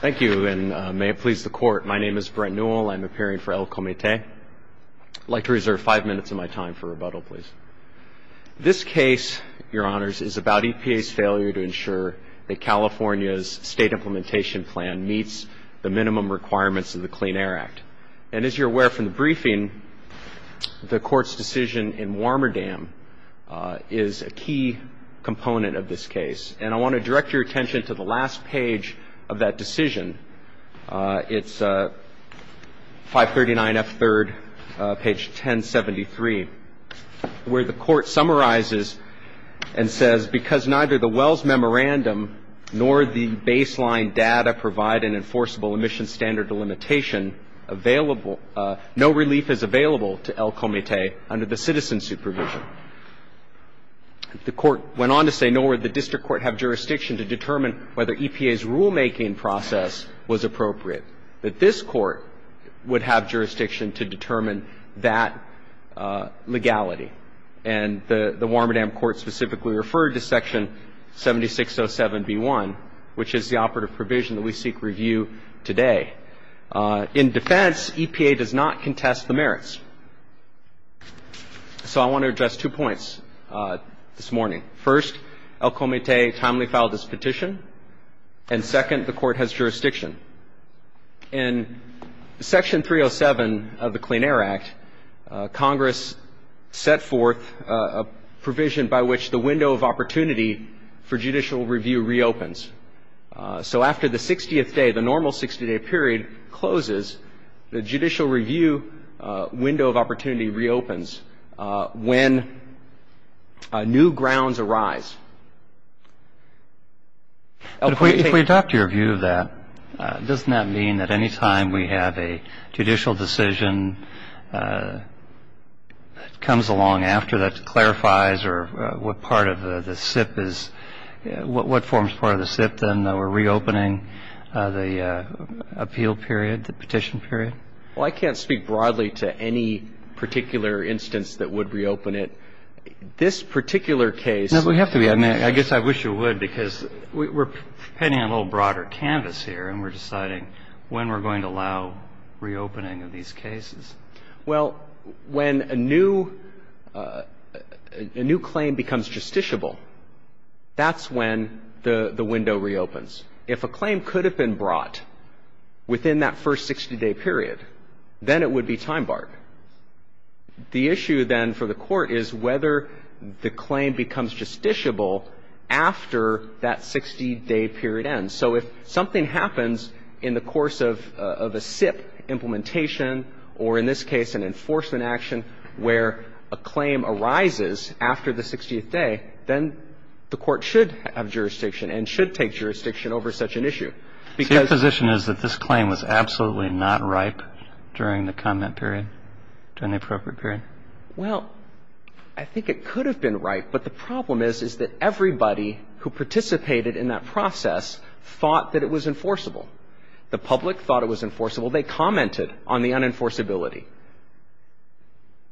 Thank you and may it please the court. My name is Brent Newell. I'm appearing for El Comite. I'd like to reserve five minutes of my time for rebuttal, please. This case, your honors, is about EPA's failure to ensure that California's state implementation plan meets the minimum requirements of the Clean Air Act. And as you're aware from the briefing, the court's decision in Warmerdam is a key component of this case. And I want to direct your attention to the last page of that decision. It's 539F3rd, page 1073, where the court summarizes and says, because neither the Wells Memorandum nor the baseline data provide an enforceable emission standard delimitation, no relief is available to El Comite under the citizen supervision. The court went on to say, nor would the district court have jurisdiction to determine whether EPA's rulemaking process was appropriate. But this court would have jurisdiction to determine that legality. And the Warmerdam court specifically referred to Section 7607B1, which is the operative provision that we seek review today. In defense, EPA does not contest the merits. So I want to address two points this morning. First, El Comite timely filed this petition. And second, the court has jurisdiction. In Section 307 of the Clean Air Act, Congress set forth a provision by which the window of opportunity for judicial review reopens. So after the 60th day, the normal 60-day period closes, the judicial review window of opportunity reopens when new grounds arise. But if we adopt your view of that, doesn't that mean that any time we have a judicial decision that comes along after that that we're reopening the appeal period, the petition period? Well, I can't speak broadly to any particular instance that would reopen it. This particular case — No, but we have to be. I mean, I guess I wish you would, because we're painting a little broader canvas here, and we're deciding when we're going to allow reopening of these cases. Well, when a new claim becomes justiciable, that's when the window reopens. If a claim could have been brought within that first 60-day period, then it would be time barred. The issue then for the Court is whether the claim becomes justiciable after that 60-day period ends. So if something happens in the course of a SIP implementation, or in this case an enforcement action, where a claim arises after the 60th day, then the Court should have jurisdiction and should take jurisdiction over such an issue, because — So your position is that this claim was absolutely not ripe during the comment period, during the appropriate period? Well, I think it could have been ripe. But the problem is, is that everybody who participated in that process thought that it was enforceable. The public thought it was enforceable. They commented on the unenforceability.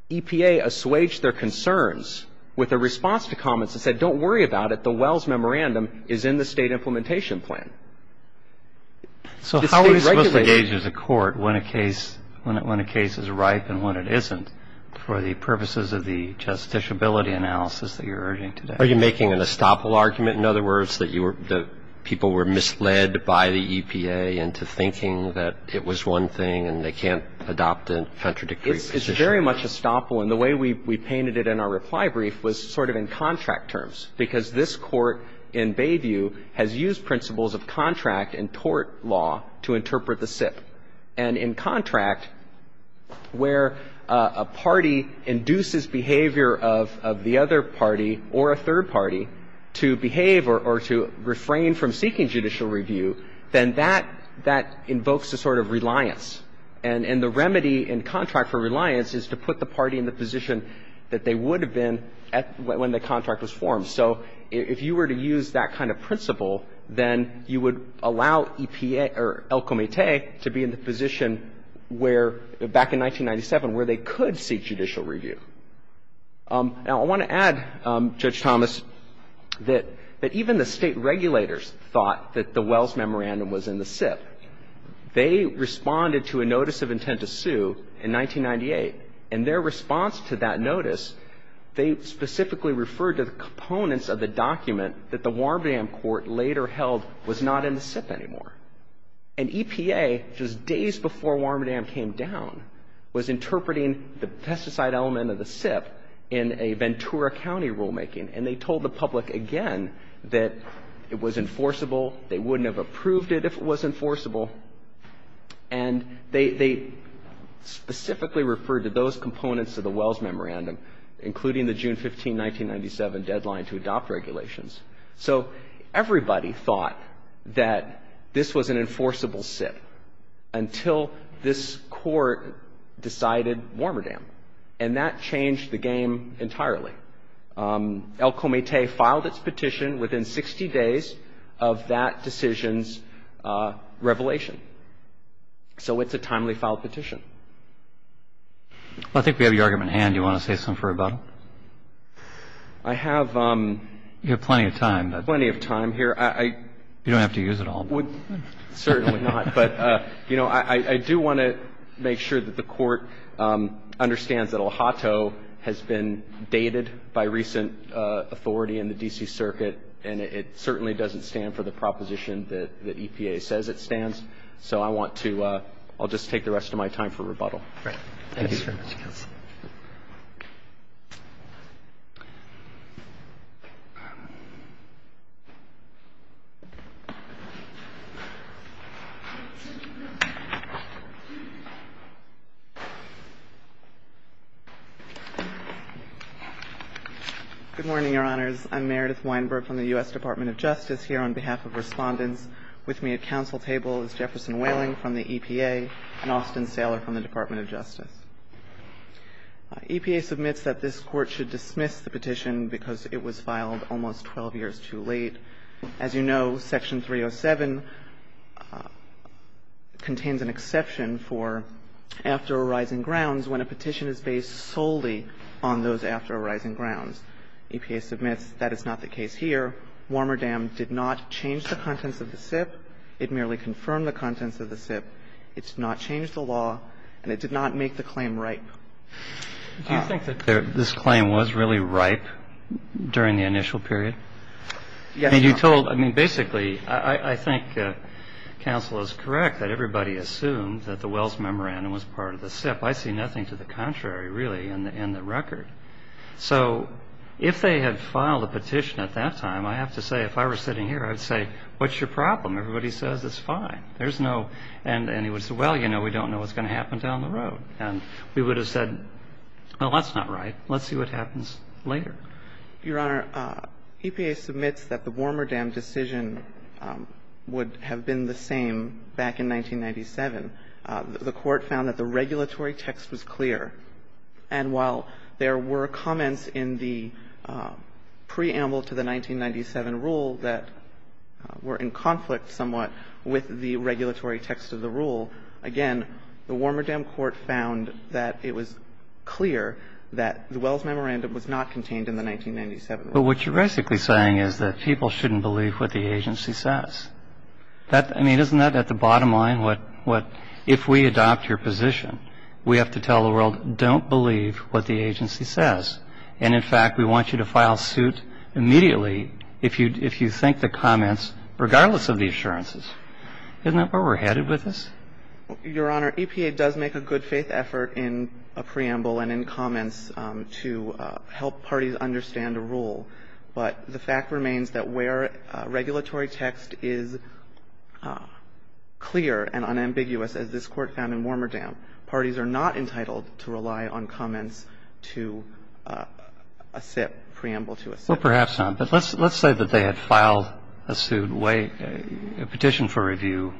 EPA assuaged their concerns with a response to comments that said, don't worry about it, the Wells Memorandum is in the State Implementation Plan. So how are we supposed to gauge as a Court when a case is ripe and when it isn't, and how do we gauge whether the claim was unenforceable? And I think it's a very important question for the purposes of the justiciability analysis that you're urging today. Are you making an estoppel argument, in other words, that you were — that people were misled by the EPA into thinking that it was one thing, and they can't adopt a contradictory position? It's very much estoppel. And the way we painted it in our reply brief was sort of in contract terms, because this Court in Bayview has used principles of contract and tort law to interpret the SIPP. And in contract, where a party induces behavior of the other party or a third party to behave or to refrain from seeking judicial review, then that invokes a sort of reliance. And the remedy in contract for reliance is to put the party in the position that they would have been when the contract was formed. So if you were to use that kind of principle, then you would allow EPA or El Comité to be in the position where, back in 1997, where they could seek judicial review. Now, I want to add, Judge Thomas, that even the State regulators thought that the Wells Memorandum was in the SIPP. They responded to a notice of intent to sue in 1998. And their response to that notice, they specifically referred to the components of the document that the Warmadam Court later held was not in the SIPP anymore. And EPA, just days before Warmadam came down, was interpreting the pesticide element of the SIPP in a Ventura County rulemaking. And they told the public again that it was enforceable. They wouldn't have approved it if it was enforceable. And they specifically referred to those components of the Wells Memorandum, including the June 15, 1997 deadline to adopt regulations. So everybody thought that this was an enforceable SIPP until this Court decided Warmadam. And that changed the game entirely. El Comete filed its petition within 60 days of that decision's revelation. So it's a timely filed petition. Well, I think we have your argument at hand. Do you want to say something for rebuttal? I have — You have plenty of time. I have plenty of time here. You don't have to use it all. Certainly not. But, you know, I do want to make sure that the Court understands that El Hato has been dated by recent authority in the D.C. Circuit. And it certainly doesn't stand for the proposition that EPA says it stands. So I want to — I'll just take the rest of my time for rebuttal. Right. Good morning, Your Honors. I'm Meredith Weinberg from the U.S. Department of Justice here on behalf of Respondents. With me at counsel table is Jefferson Whaling from the EPA and Austin Saylor from the Department of Justice. EPA submits that this Court should dismiss the petition because it was filed almost 12 years too late. As you know, Section 307 contains an exception for after arising grounds when a petition is based solely on those after arising grounds. EPA submits that is not the case here. Warmer Dam did not change the contents of the SIP. It merely confirmed the contents of the SIP. It did not change the law, and it did not make the claim ripe. Do you think that this claim was really ripe during the initial period? Yes, Your Honor. And you told — I mean, basically, I think counsel is correct that everybody assumed that the Wells Memorandum was part of the SIP. I see nothing to the contrary, really, in the record. So if they had filed a petition at that time, I have to say, if I were sitting here, I would say, what's your problem? Everybody says it's fine. There's no — and he would say, well, you know, we don't know what's going to happen down the road. And we would have said, well, that's not right. Let's see what happens later. Your Honor, EPA submits that the Warmer Dam decision would have been the same back in 1997. The Court found that the regulatory text was clear. And while there were comments in the preamble to the 1997 rule that were in conflict somewhat with the regulatory text of the rule, again, the Warmer Dam Court found that it was clear that the Wells Memorandum was not contained in the 1997 rule. But what you're basically saying is that people shouldn't believe what the agency says. I mean, isn't that at the bottom line what — if we adopt your position, we have to tell the world, don't believe what the agency says. And in fact, we want you to file suit immediately if you think the comments, regardless of the assurances. Isn't that where we're headed with this? Your Honor, EPA does make a good-faith effort in a preamble and in comments to help parties understand a rule. But the fact remains that where regulatory text is clear and unambiguous, as this Court found in Warmer Dam, parties are not entitled to rely on comments to a SIP, preamble to a SIP. Well, perhaps not. But let's say that they had filed a suit, a petition for review,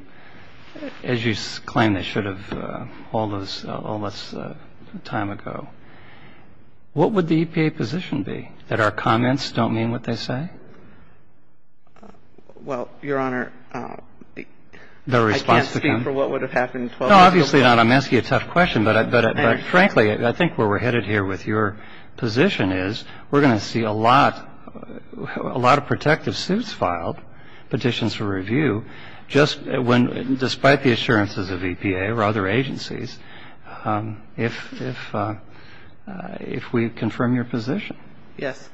as you claim they should have all this time ago. What would the EPA position be, that our comments don't mean what they say? Well, Your Honor, I can't speak for what would have happened 12 years ago. No, obviously not. I'm asking you a tough question. But frankly, I think where we're headed here with your position is we're going to see a lot of protective suits filed, petitions for review, just when — despite the assurances of EPA or other agencies, if we confirm your position. Yes.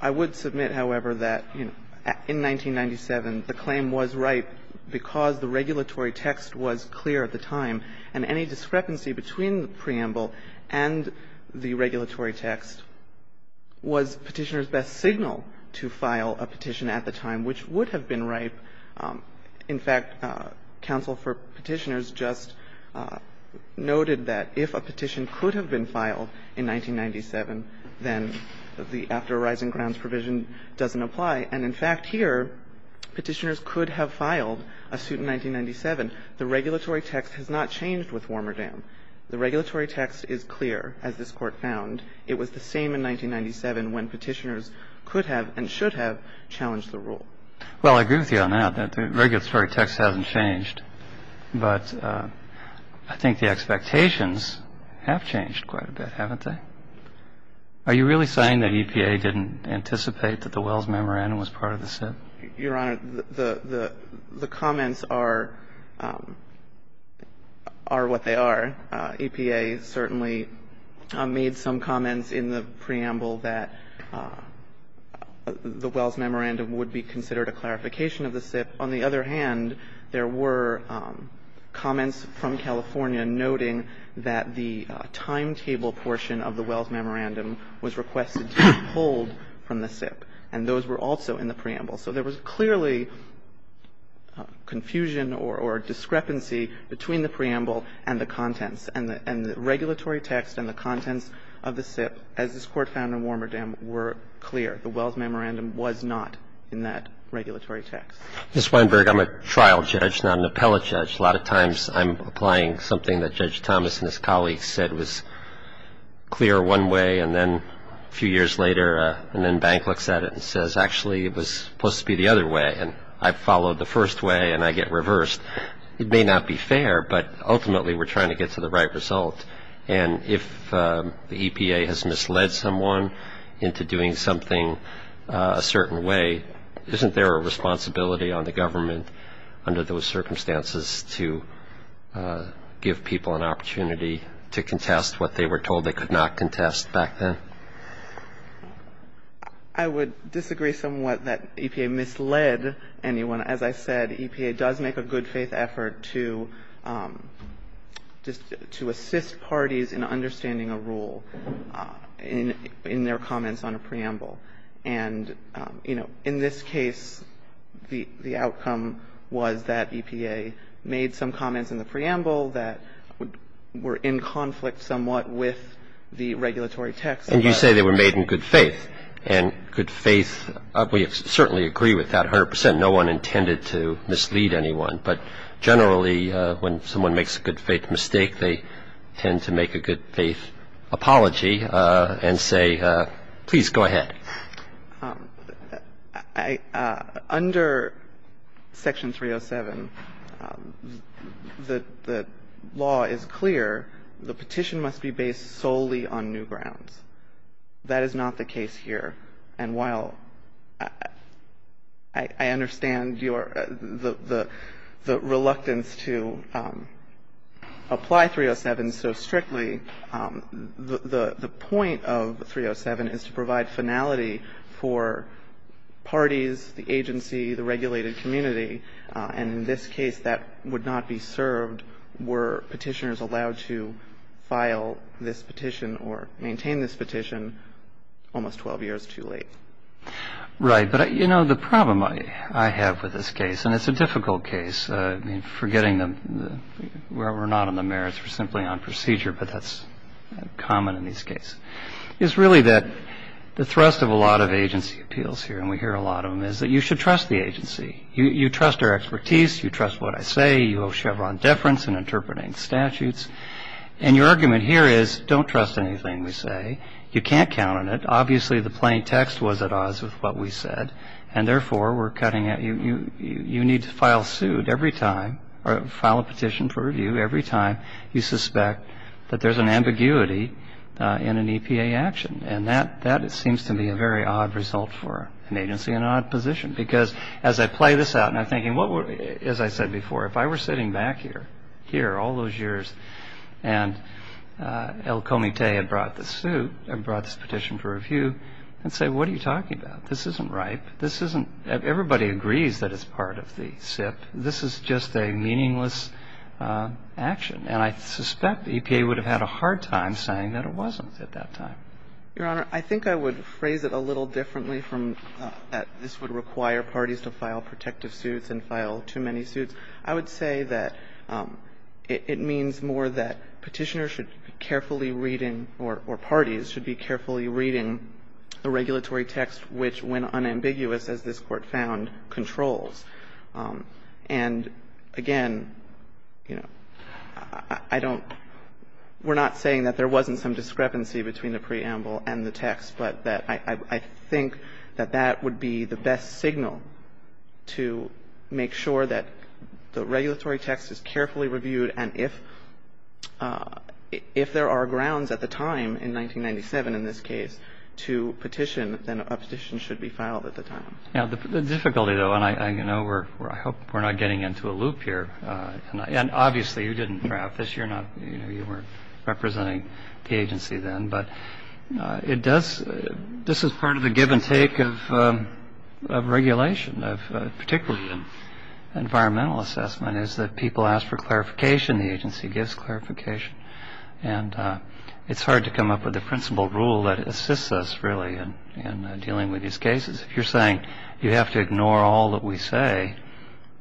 I would submit, however, that in 1997, the claim was ripe because the regulatory text was clear at the time. And any discrepancy between the preamble and the regulatory text was Petitioner's best signal to file a petition at the time, which would have been ripe. In fact, counsel for Petitioners just noted that if a petition could have been filed in 1997, then the after arising grounds provision doesn't apply. And in fact, here, Petitioners could have filed a suit in 1997. The regulatory text has not changed with Warmerdam. The regulatory text is clear, as this Court found. It was the same in 1997 when Petitioners could have and should have challenged the rule. Well, I agree with you on that, that the regulatory text hasn't changed. But I think the expectations have changed quite a bit, haven't they? Are you really saying that EPA didn't anticipate that the Wells Memorandum was part of the suit? Your Honor, the comments are what they are. I think EPA certainly made some comments in the preamble that the Wells Memorandum would be considered a clarification of the SIP. On the other hand, there were comments from California noting that the timetable portion of the Wells Memorandum was requested to be pulled from the SIP, and those were also in the preamble. So there was clearly confusion or discrepancy between the preamble and the contents and the regulatory text and the contents of the SIP, as this Court found in Warmerdam, were clear. The Wells Memorandum was not in that regulatory text. Mr. Weinberg, I'm a trial judge, not an appellate judge. A lot of times, I'm applying something that Judge Thomas and his colleagues said was clear one way, and then a few years later, an inbank looks at it and says, actually, it was supposed to be the other way, and I followed the first way and I get reversed. It may not be fair, but ultimately, we're trying to get to the right result. And if the EPA has misled someone into doing something a certain way, isn't there a responsibility on the government under those circumstances to give people an opportunity to contest what they were told they could not contest back then? I would disagree somewhat that EPA misled anyone. As I said, EPA does make a good-faith effort to assist parties in understanding a rule in their comments on a preamble. And, you know, in this case, the outcome was that EPA made some comments in the preamble that were in conflict somewhat with the regulatory text. And you say they were made in good faith. And good faith, we certainly agree with that 100 percent. No one intended to mislead anyone. But generally, when someone makes a good-faith mistake, they tend to make a good-faith apology and say, please go ahead. Under Section 307, the law is clear. The petition must be based solely on new grounds. That is not the case here. And while I understand your the reluctance to apply 307 so strictly, the point of 307 is to provide finality for parties, the agency, the regulated community. And in this case, that would not be served were petitioners allowed to file this petition or maintain this petition almost 12 years too late. Right. But, you know, the problem I have with this case, and it's a difficult case, forgetting that we're not on the merits, we're simply on procedure, but that's common in these cases, is really that the thrust of a lot of agency appeals here, and we hear a lot of them, is that you should trust the agency. You trust their expertise. You trust what I say. You owe Chevron deference in interpreting statutes. And your argument here is, don't trust anything we say. You can't count on it. Obviously, the plain text was at odds with what we said. And therefore, we're cutting at you. You need to file suit every time or file a petition for review every time you suspect that there's an ambiguity in an EPA action. And that seems to be a very odd result for an agency in an odd position. Because as I play this out and I'm thinking, as I said before, if I were sitting back here all those years and El Comite had brought the suit and brought this petition for review, I'd say, what are you talking about? This isn't right. Everybody agrees that it's part of the SIP. This is just a meaningless action. And I suspect EPA would have had a hard time saying that it wasn't at that time. Your Honor, I think I would phrase it a little differently from that this would require parties to file protective suits and file too many suits. I would say that it means more that Petitioners should be carefully reading, or parties should be carefully reading the regulatory text which, when unambiguous as this Court found, controls. And, again, you know, I don't we're not saying that there wasn't some discrepancy between the preamble and the text, but that I think that that would be the best signal to make sure that the regulatory text is carefully reviewed. And if there are grounds at the time, in 1997 in this case, to petition, then a petition should be filed at the time. The difficulty, though, and I hope we're not getting into a loop here tonight. And, obviously, you didn't draft this. You weren't representing the agency then. But this is part of the give and take of regulation, particularly environmental assessment, is that people ask for clarification. The agency gives clarification. And it's hard to come up with a principle rule that assists us, really, in dealing with these cases. If you're saying you have to ignore all that we say,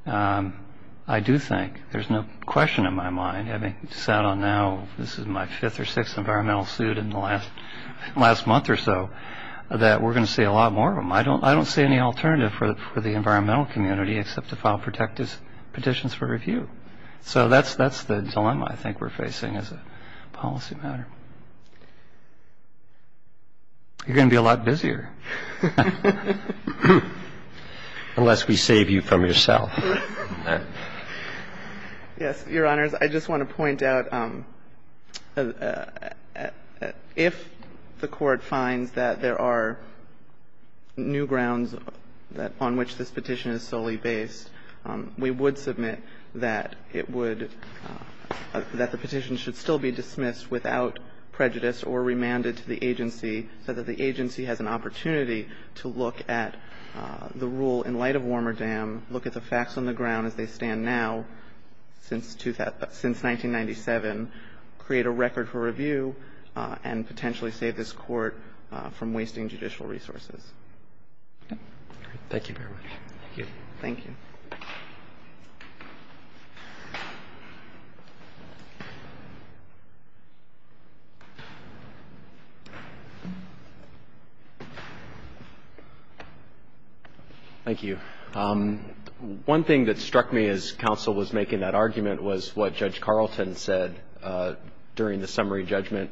I do think, there's no question in my mind, having sat on now this is my fifth or sixth environmental suit in the last month or so, I don't see any alternative for the environmental community except to file protective petitions for review. So that's the dilemma I think we're facing as a policy matter. You're going to be a lot busier. Unless we save you from yourself. Yes, Your Honors. I just want to point out, if the Court finds that there are new grounds on which this petition is solely based, we would submit that it would, that the petition should still be dismissed without prejudice or remanded to the agency so that the stand now, since 1997, create a record for review and potentially save this Court from wasting judicial resources. Thank you very much. Thank you. Thank you. Thank you. One thing that struck me as counsel was making that argument was what Judge Carlton said during the summary judgment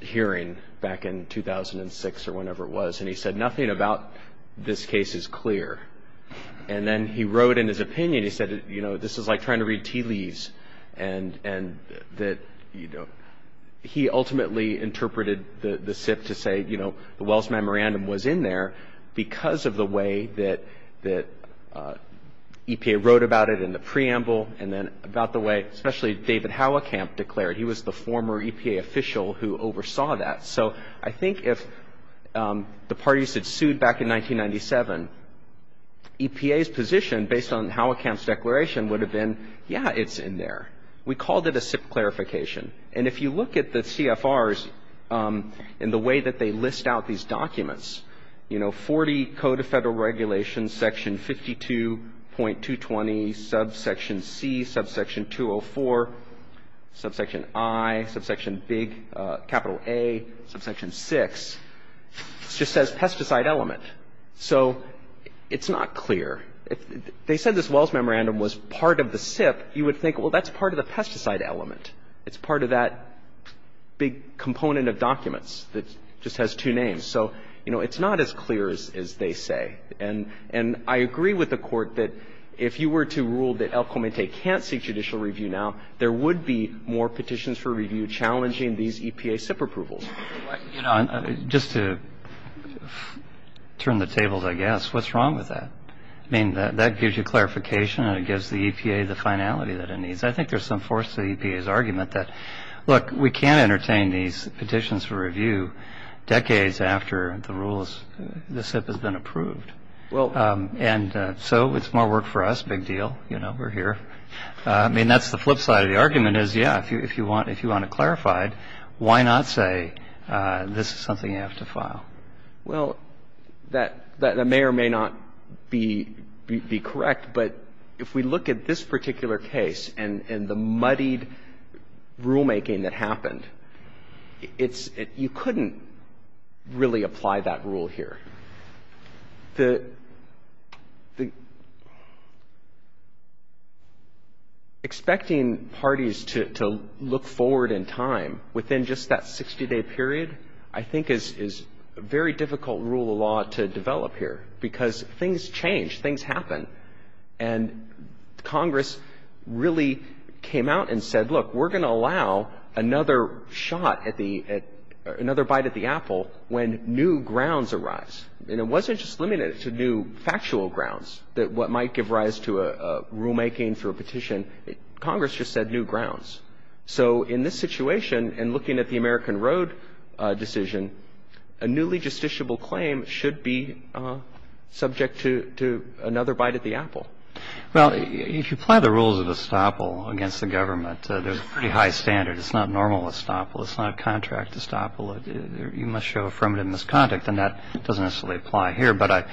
hearing back in 2006 or whenever it was. And he said nothing about this case is clear. And then he wrote in his opinion, he said, you know, this is like trying to read tea leaves. And that, you know, he ultimately interpreted the SIPP to say, you know, the Wells Memorandum was in there because of the way that EPA wrote about it in the preamble and then about the way, especially David Howacamp declared. He was the former EPA official who oversaw that. So I think if the parties had sued back in 1997, EPA's position based on Howacamp's declaration would have been, yeah, it's in there. We called it a SIPP clarification. And if you look at the CFRs and the way that they list out these documents, you know, 40 Code of Federal Regulations, section 52.220, subsection C, subsection 204, subsection I, subsection big capital A, subsection 6, it just says pesticide element. So it's not clear. If they said this Wells Memorandum was part of the SIPP, you would think, well, that's part of the pesticide element. It's part of that big component of documents that just has two names. So, you know, it's not as clear as they say. And I agree with the Court that if you were to rule that El Comite can't seek judicial review now, there would be more petitions for review challenging these EPA SIPP approvals. Just to turn the tables, I guess, what's wrong with that? I mean, that gives you clarification and it gives the EPA the finality that it needs. I think there's some force to the EPA's argument that, look, we can't entertain these petitions for review decades after the rules, the SIPP has been approved. And so it's more work for us, big deal. You know, we're here. I mean, that's the flip side of the argument is, yeah, if you want it clarified, why not say this is something you have to file? Well, that may or may not be correct. But if we look at this particular case and the muddied rulemaking that happened, you couldn't really apply that rule here. Expecting parties to look forward in time within just that 60-day period I think is a very difficult rule of law to develop here because things change. Things happen. And Congress really came out and said, look, we're going to allow another shot at the – another bite at the apple when new grounds arise. And it wasn't just limited to new factual grounds that what might give rise to a rulemaking for a petition. Congress just said new grounds. So in this situation, and looking at the American Road decision, a newly justiciable claim should be subject to another bite at the apple. Well, if you apply the rules of estoppel against the government, there's a pretty high standard. It's not normal estoppel. It's not a contract estoppel. You must show affirmative misconduct. And that doesn't necessarily apply here. But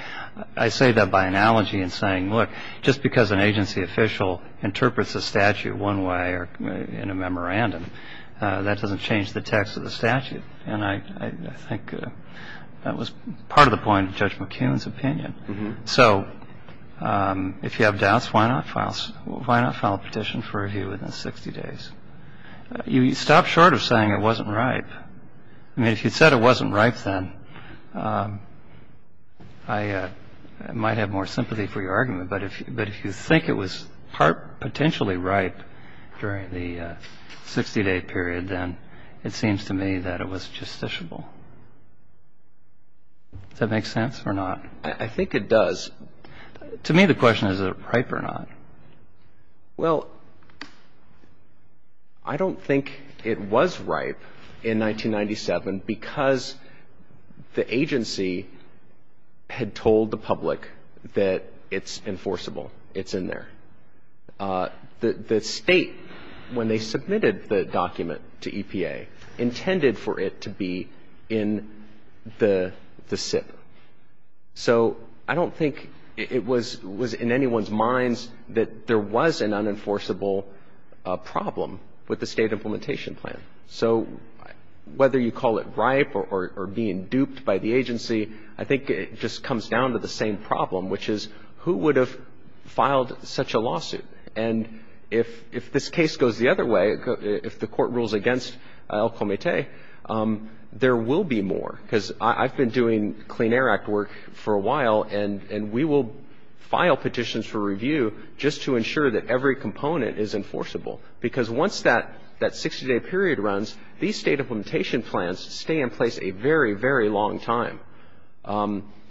I say that by analogy in saying, look, just because an agency official interprets a statute one way or in a memorandum, that doesn't change the text of the statute. And I think that was part of the point of Judge McCune's opinion. So if you have doubts, why not file a petition for review within 60 days? You stop short of saying it wasn't right. I mean, if you said it wasn't right then, I might have more sympathy for your argument. But if you think it was potentially right during the 60-day period, then it seems to me that it was justiciable. Does that make sense or not? I think it does. To me, the question is, is it right or not? Well, I don't think it was right in 1997 because the agency had told the public that it's enforceable, it's in there. The State, when they submitted the document to EPA, intended for it to be in the SIP. So I don't think it was in anyone's minds that there was an unenforceable problem with the State implementation plan. So whether you call it ripe or being duped by the agency, I think it just comes down to the same problem, which is who would have filed such a lawsuit? And if this case goes the other way, if the court rules against El Comité, there will be more. Because I've been doing Clean Air Act work for a while, and we will file petitions for review just to ensure that every component is enforceable. Because once that 60-day period runs, these State implementation plans stay in place a very, very long time.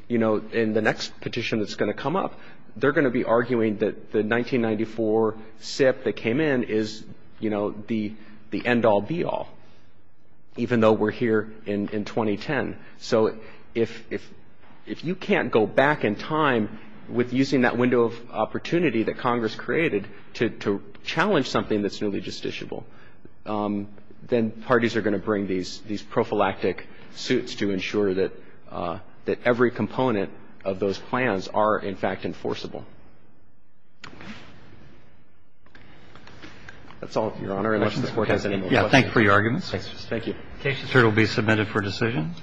You know, in the next petition that's going to come up, they're going to be arguing that the 1994 SIP that came in is, you know, the end-all, be-all, even though we're here in 2010. So if you can't go back in time with using that window of opportunity that Congress created to challenge something that's newly justiciable, then parties are going to bring these prophylactic suits to ensure that every component of those plans are, in fact, enforceable. That's all, Your Honor, unless the Court has any more questions. Roberts. Yeah. Thank you for your arguments. Thank you. This Court will be submitted for decision.